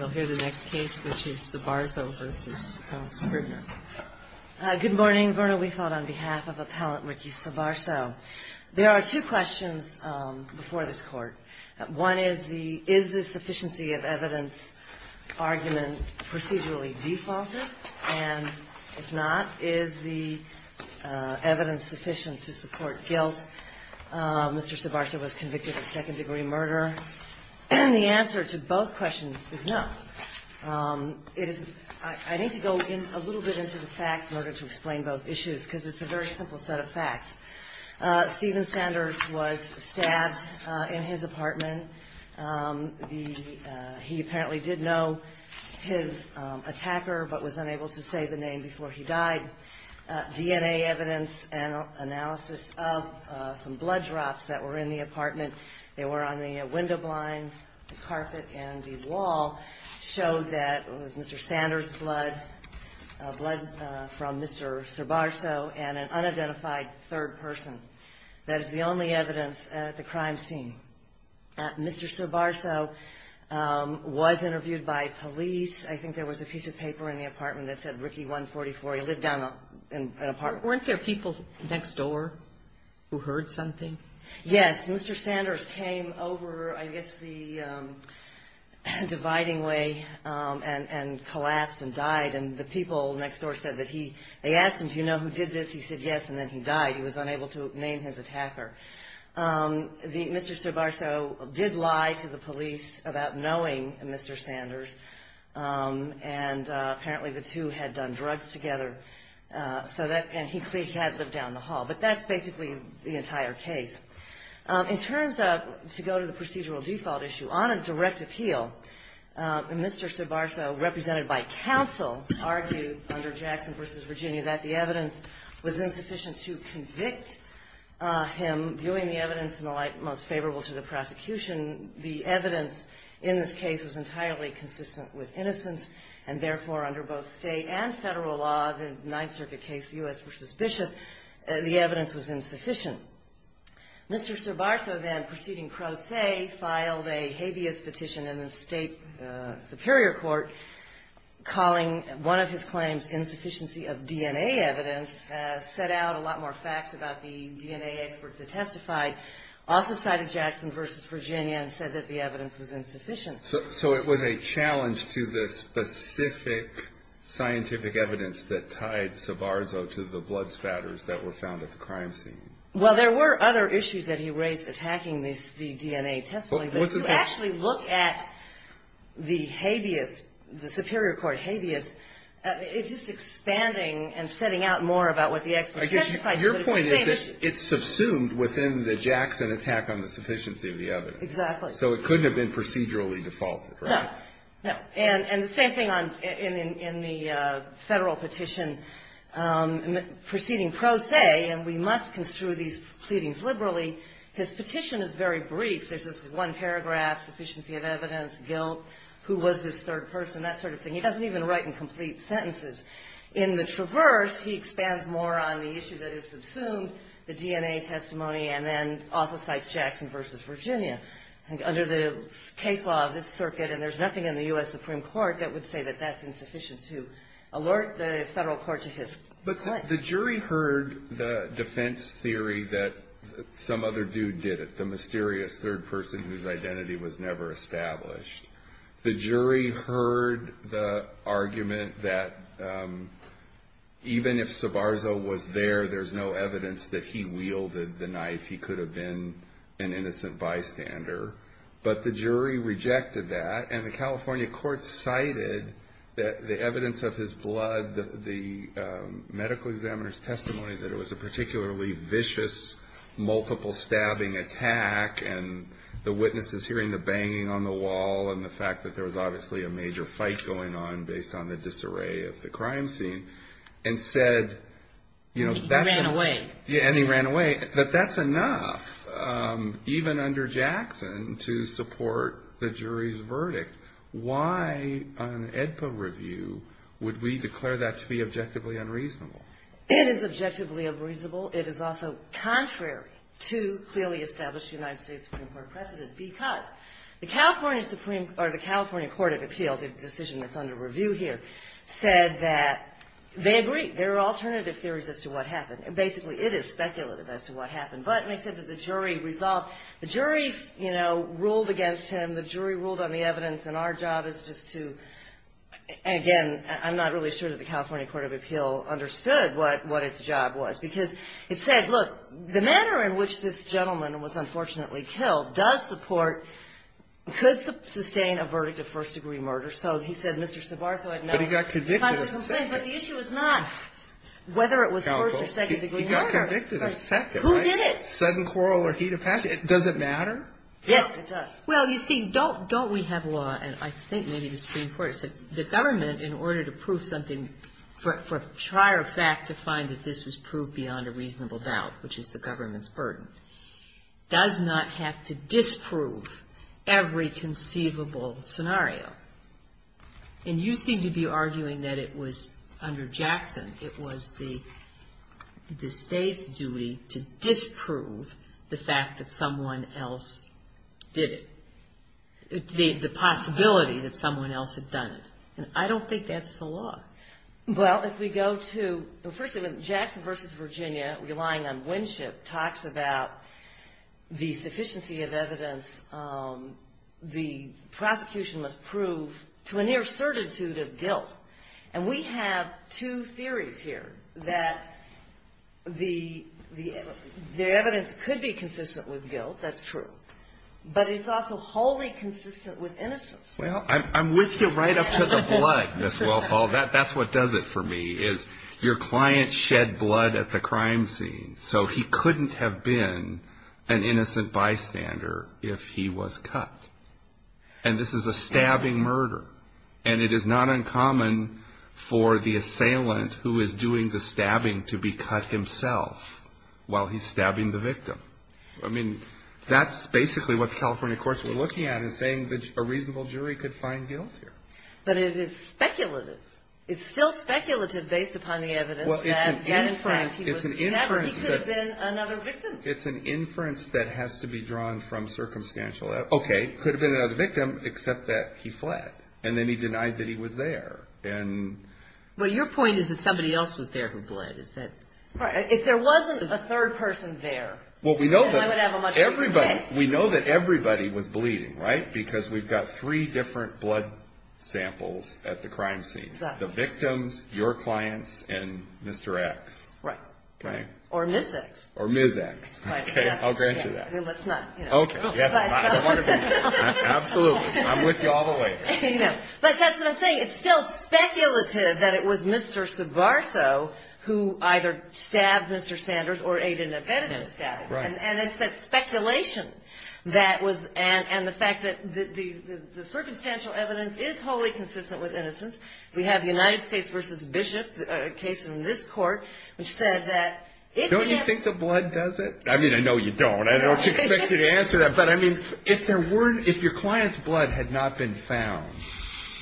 Good morning. Verna Weefeld on behalf of Appellant Ricky Sobarzo. There are two questions before this court. One is, is the sufficiency of evidence argument procedurally defaulted? And if not, is the evidence sufficient to support guilt? Mr. Sobarzo was convicted of second degree murder. The answer to both questions is no. I need to go a little bit into the facts in order to explain both issues, because it's a very simple set of facts. Stephen Sanders was stabbed in his apartment. He apparently did know his attacker, but was unable to say the name before he died. DNA evidence and analysis of some blood drops that were in the apartment. They were on the window blinds, the carpet, and the wall. It showed that it was Mr. Sanders' blood, blood from Mr. Sobarzo, and an unidentified third person. That is the only evidence at the crime scene. Mr. Sobarzo was interviewed by police. I think there was a piece of paper in the apartment that said Ricky 144. He lived down an apartment. Weren't there people next door who heard something? But that's basically the entire case. In terms of, to go to the procedural default issue, on a direct appeal, Mr. Sobarzo, represented by counsel, argued under Jackson v. Virginia that the evidence was insufficient to convict him, viewing the evidence in the light most favorable to the prosecution. The evidence in this case was entirely consistent with innocence, and therefore, under both state and federal law, the Ninth Circuit case, U.S. v. Bishop, the evidence was insufficient. Mr. Sobarzo then, proceeding pro se, filed a habeas petition in the state superior court, calling one of his claims insufficiency of DNA evidence, set out a lot more facts about the DNA experts that testified. Also cited Jackson v. Virginia and said that the evidence was insufficient. So it was a challenge to the specific scientific evidence that tied Sobarzo to the blood spatters that were found at the crime scene? Well, there were other issues that he raised attacking the DNA testimony, but if you actually look at the habeas, the superior court habeas, it's just expanding and setting out more about what the experts testified. Your point is that it's subsumed within the Jackson attack on the sufficiency of the evidence. Exactly. So it couldn't have been procedurally defaulted, right? No. And the same thing in the federal petition, proceeding pro se, and we must construe these pleadings liberally, his petition is very brief. There's this one paragraph, sufficiency of evidence, guilt, who was this third person, that sort of thing. He doesn't even write in complete sentences. In the traverse, he expands more on the issue that is subsumed, the DNA testimony, and then also cites Jackson v. Virginia. Under the case law of this circuit, and there's nothing in the U.S. Supreme Court that would say that that's insufficient to alert the federal court to his claim. But the jury heard the defense theory that some other dude did it, the mysterious third person whose identity was never established. The jury heard the argument that even if Sabarzo was there, there's no evidence that he wielded the knife. He could have been an innocent bystander. But the jury rejected that, and the California court cited the evidence of his blood, the medical examiner's testimony, that it was a particularly vicious, multiple stabbing attack, and the witnesses hearing the banging on the wall, and the fact that there was obviously a major fight going on based on the disarray of the crime scene, and said, you know, that's. He ran away. Yeah, and he ran away. But that's enough, even under Jackson, to support the jury's verdict. Why on an AEDPA review would we declare that to be objectively unreasonable? It is objectively unreasonable. It is also contrary to clearly established United States Supreme Court precedent, because the California Supreme Court or the California Court of Appeal, the decision that's under review here, said that they agree. There are alternative theories as to what happened. Basically, it is speculative as to what happened. But they said that the jury resolved. The jury, you know, ruled against him. The jury ruled on the evidence. And our job is just to, again, I'm not really sure that the California Court of Appeal understood what its job was, because it said, look, the manner in which this gentleman was unfortunately killed does support, could sustain a verdict of first-degree murder. So he said, Mr. Savar, so I'd know. But he got convicted a second. But the issue is not whether it was first- or second-degree murder. He got convicted a second, right? Who did it? Sudden quarrel or heat of passion. Does it matter? Yes, it does. Well, you see, don't we have law, and I think maybe the Supreme Court said the government, in order to prove something, for trier fact to find that this was proved beyond a reasonable doubt, which is the government's burden, does not have to disprove every conceivable scenario. And you seem to be arguing that it was under Jackson, it was the State's duty to disprove the fact that someone else did it, the possibility that someone else had done it. And I don't think that's the law. Well, if we go to, first of all, Jackson v. Virginia, relying on Winship, talks about the sufficiency of evidence the prosecution must prove to a near certitude of guilt. And we have two theories here, that the evidence could be consistent with guilt, that's true, but it's also wholly consistent with innocence. Well, I'm with you right up to the blood, Ms. Wellfall. That's what does it for me, is your client shed blood at the crime scene, so he couldn't have been an innocent bystander if he was cut. And this is a stabbing murder. And it is not uncommon for the assailant who is doing the stabbing to be cut himself while he's stabbing the victim. I mean, that's basically what the California courts were looking at in saying a reasonable jury could find guilt here. But it is speculative. It's still speculative based upon the evidence that, in fact, he was stabbed. He could have been another victim. It's an inference that has to be drawn from circumstantial evidence. Okay, could have been another victim, except that he fled. And then he denied that he was there. Well, your point is that somebody else was there who bled. If there wasn't a third person there, then I would have a much bigger case. We know that everybody was bleeding, right, because we've got three different blood samples at the crime scene, the victims, your clients, and Mr. X. Right. Or Ms. X. Or Ms. X. I'll grant you that. Okay. Absolutely. I'm with you all the way. I know. But that's what I'm saying. It's still speculative that it was Mr. Subarso who either stabbed Mr. Sanders or aided and abetted the stabbing. Right. And it's that speculation and the fact that the circumstantial evidence is wholly consistent with innocence. We have the United States v. Bishop, a case in this court, which said that if he had been ---- Don't you think the blood does it? I mean, I know you don't. I don't expect you to answer that. But, I mean, if your client's blood had not been found,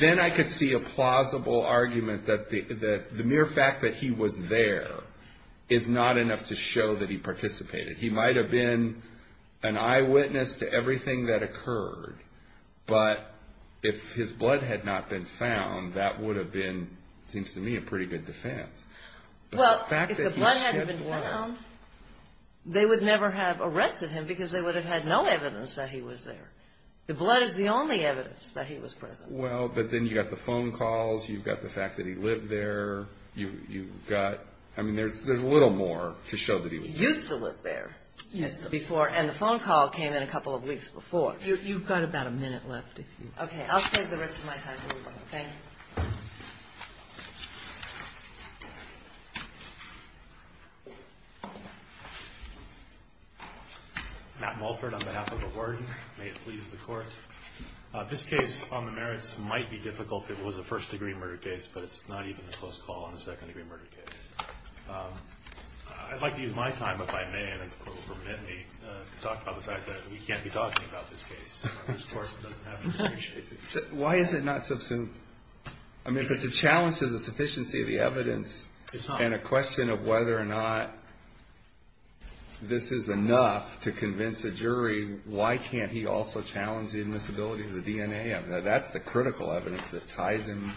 then I could see a plausible argument that the mere fact that he was there is not enough to show that he participated. He might have been an eyewitness to everything that occurred, but if his blood had not been found, that would have been, it seems to me, a pretty good defense. Well, if the blood hadn't been found, they would never have arrested him because they would have had no evidence that he was there. The blood is the only evidence that he was present. Well, but then you've got the phone calls. You've got the fact that he lived there. You've got, I mean, there's a little more to show that he was there. He used to live there. Yes. And the phone call came in a couple of weeks before. You've got about a minute left. Okay. I'll save the rest of my time for you. Thank you. Matt Mulford on behalf of the Warden. May it please the Court. This case on the merits might be difficult. It was a first-degree murder case, but it's not even a close call on a second-degree murder case. I'd like to use my time, if I may, and if the Court will permit me, to talk about the fact that we can't be talking about this case. Why is it not sufficient? I mean, if it's a challenge to the sufficiency of the evidence and a question of whether or not this is enough to convince a jury, why can't he also challenge the admissibility of the DNA? I mean, that's the critical evidence that ties him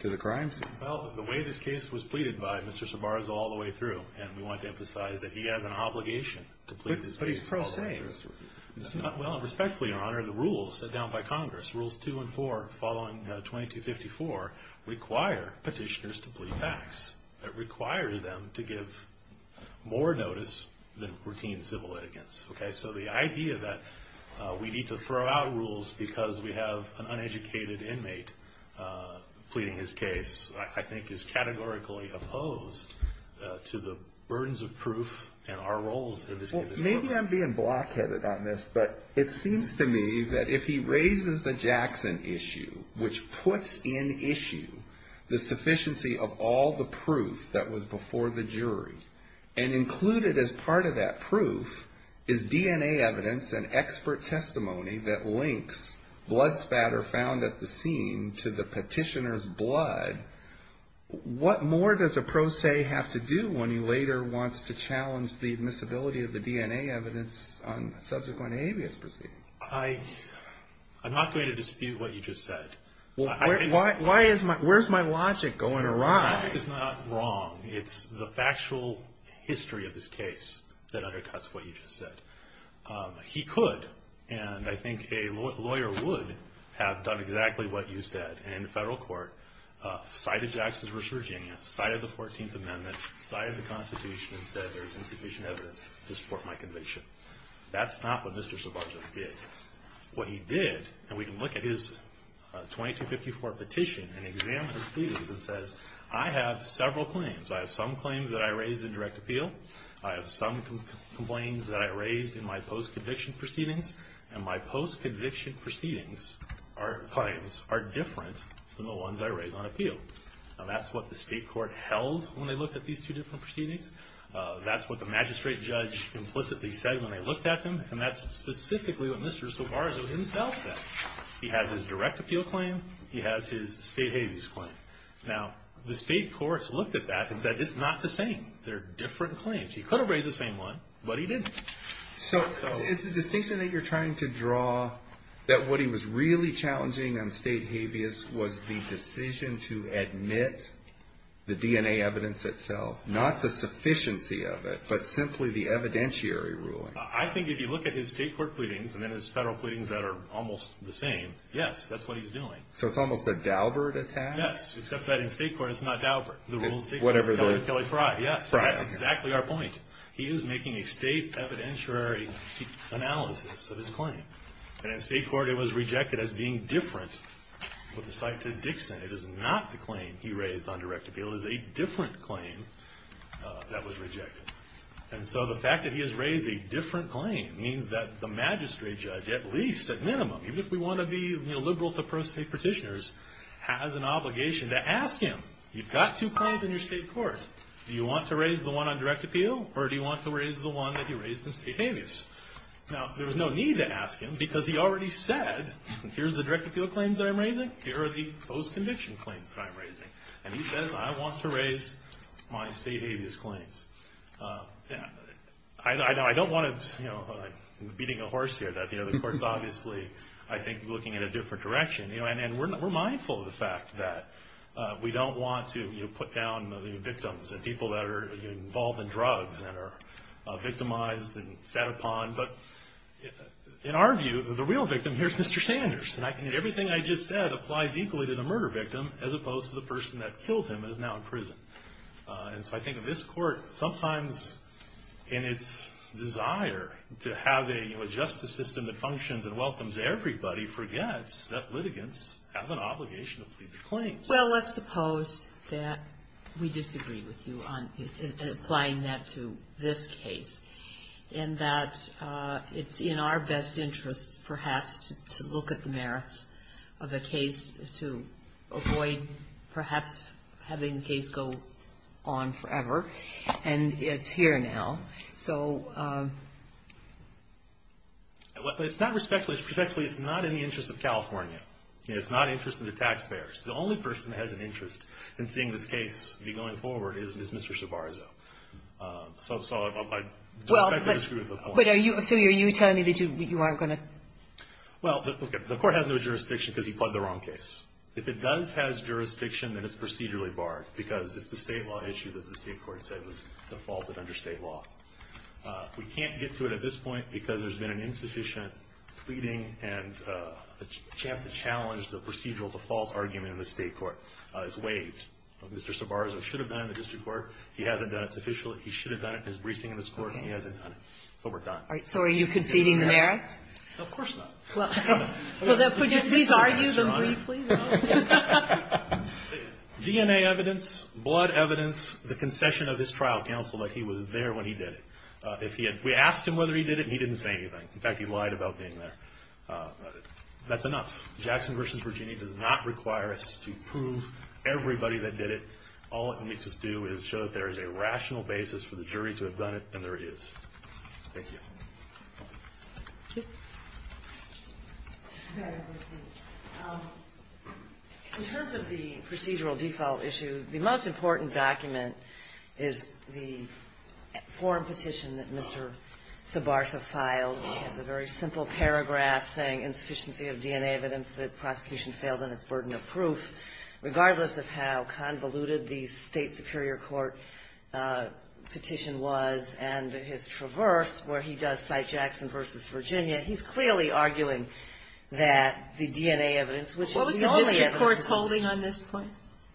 to the crime scene. Well, the way this case was pleaded by Mr. Sabar is all the way through, and we want to emphasize that he has an obligation to plead this case. But he's pro-law. Well, and respectfully, Your Honor, the rules set down by Congress, Rules 2 and 4, following 2254, require petitioners to plead facts. It requires them to give more notice than routine civil litigants. So the idea that we need to throw out rules because we have an uneducated inmate pleading his case I think is categorically opposed to the burdens of proof and our roles in this case. Maybe I'm being block-headed on this, but it seems to me that if he raises the Jackson issue, which puts in issue the sufficiency of all the proof that was before the jury, and included as part of that proof is DNA evidence and expert testimony that links blood spatter found at the scene to the petitioner's blood, what more does a pro se have to do when he later wants to challenge the admissibility of the DNA evidence on subsequent habeas proceedings? I'm not going to dispute what you just said. Well, where's my logic going awry? The logic is not wrong. It's the factual history of this case that undercuts what you just said. He could, and I think a lawyer would, have done exactly what you said. In federal court, cited Jackson's resurging, cited the 14th Amendment, cited the Constitution, and said there's insufficient evidence to support my conviction. That's not what Mr. Subarjan did. What he did, and we can look at his 2254 petition and examine his pleadings, it says, I have several claims. I have some claims that I raised in direct appeal. I have some complaints that I raised in my post-conviction proceedings, and my post-conviction claims are different than the ones I raised on appeal. That's what the state court held when they looked at these two different proceedings. That's what the magistrate judge implicitly said when they looked at them, and that's specifically what Mr. Subarjan himself said. He has his direct appeal claim. He has his state habeas claim. Now, the state courts looked at that and said it's not the same. They're different claims. He could have raised the same one, but he didn't. So is the distinction that you're trying to draw that what he was really challenging on state habeas was the decision to admit the DNA evidence itself, not the sufficiency of it, but simply the evidentiary ruling? I think if you look at his state court pleadings and then his federal pleadings that are almost the same, yes, that's what he's doing. So it's almost a Daubert attack? Yes, except that in state court, it's not Daubert. The rule is Kelly Frye. That's exactly our point. He is making a state evidentiary analysis of his claim, and in state court it was rejected as being different. With respect to Dixon, it is not the claim he raised on direct appeal. It is a different claim that was rejected. And so the fact that he has raised a different claim means that the magistrate judge, at least at minimum, even if we want to be liberal to pro-state petitioners, has an obligation to ask him. You've got two claims in your state court. Do you want to raise the one on direct appeal, or do you want to raise the one that he raised in state habeas? Now, there's no need to ask him because he already said, here's the direct appeal claims that I'm raising, here are the post-conviction claims that I'm raising. And he says, I want to raise my state habeas claims. I don't want to, you know, I'm beating a horse here. The court's obviously, I think, looking in a different direction. And we're mindful of the fact that we don't want to put down the victims and people that are involved in drugs and are victimized and sat upon. But in our view, the real victim, here's Mr. Sanders, and everything I just said applies equally to the murder victim, as opposed to the person that killed him and is now in prison. And so I think this Court, sometimes in its desire to have a, you know, a justice system that functions and welcomes everybody, Well, let's suppose that we disagree with you on applying that to this case. And that it's in our best interest, perhaps, to look at the merits of the case to avoid, perhaps, having the case go on forever. And it's here now. So it's not respectfully, it's not in the interest of California. It's not in the interest of the taxpayers. The only person that has an interest in seeing this case be going forward is Mr. Savarzo. So I respect that you disagree with the point. But are you telling me that you aren't going to? Well, the Court has no jurisdiction because he pled the wrong case. If it does have jurisdiction, then it's procedurally barred, because it's the state law issue that the state court said was defaulted under state law. We can't get to it at this point because there's been an insufficient pleading and a chance to challenge the procedural default argument in the state court. It's waived. Mr. Savarzo should have done it in the district court. He hasn't done it. It's official. He should have done it in his briefing in this court, and he hasn't done it. So we're done. All right. So are you conceding the merits? Of course not. Could you please argue them briefly? DNA evidence, blood evidence, the concession of his trial counsel that he was there when he did it. We asked him whether he did it, and he didn't say anything. In fact, he lied about being there. That's enough. Jackson v. Virginia does not require us to prove everybody that did it. All it makes us do is show that there is a rational basis for the jury to have done it, and there is. Thank you. In terms of the procedural default issue, the most important document is the forum petition that Mr. Savarzo filed. It's a very simple paragraph saying insufficiency of DNA evidence, that prosecution failed on its burden of proof, regardless of how convoluted the state superior court petition was and his traverse, where he does cite Jackson v. Virginia. He's clearly arguing that the DNA evidence, which is the only evidence. What was the district court holding on this point?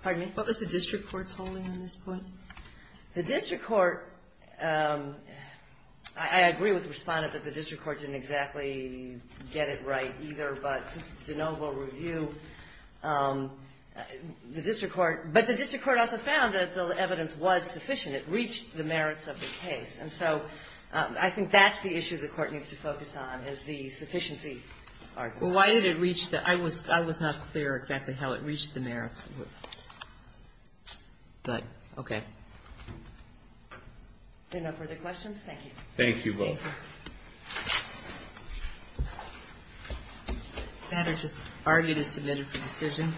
Pardon me? What was the district court holding on this point? The district court, I agree with the Respondent that the district court didn't exactly get it right either, but DeNovo Review, the district court, but the district court also found that the evidence was sufficient. It reached the merits of the case. And so I think that's the issue the court needs to focus on, is the sufficiency argument. Well, why did it reach the merits? I was not clear exactly how it reached the merits, but okay. If there are no further questions, thank you. Thank you both. The matter just argued is submitted for decision.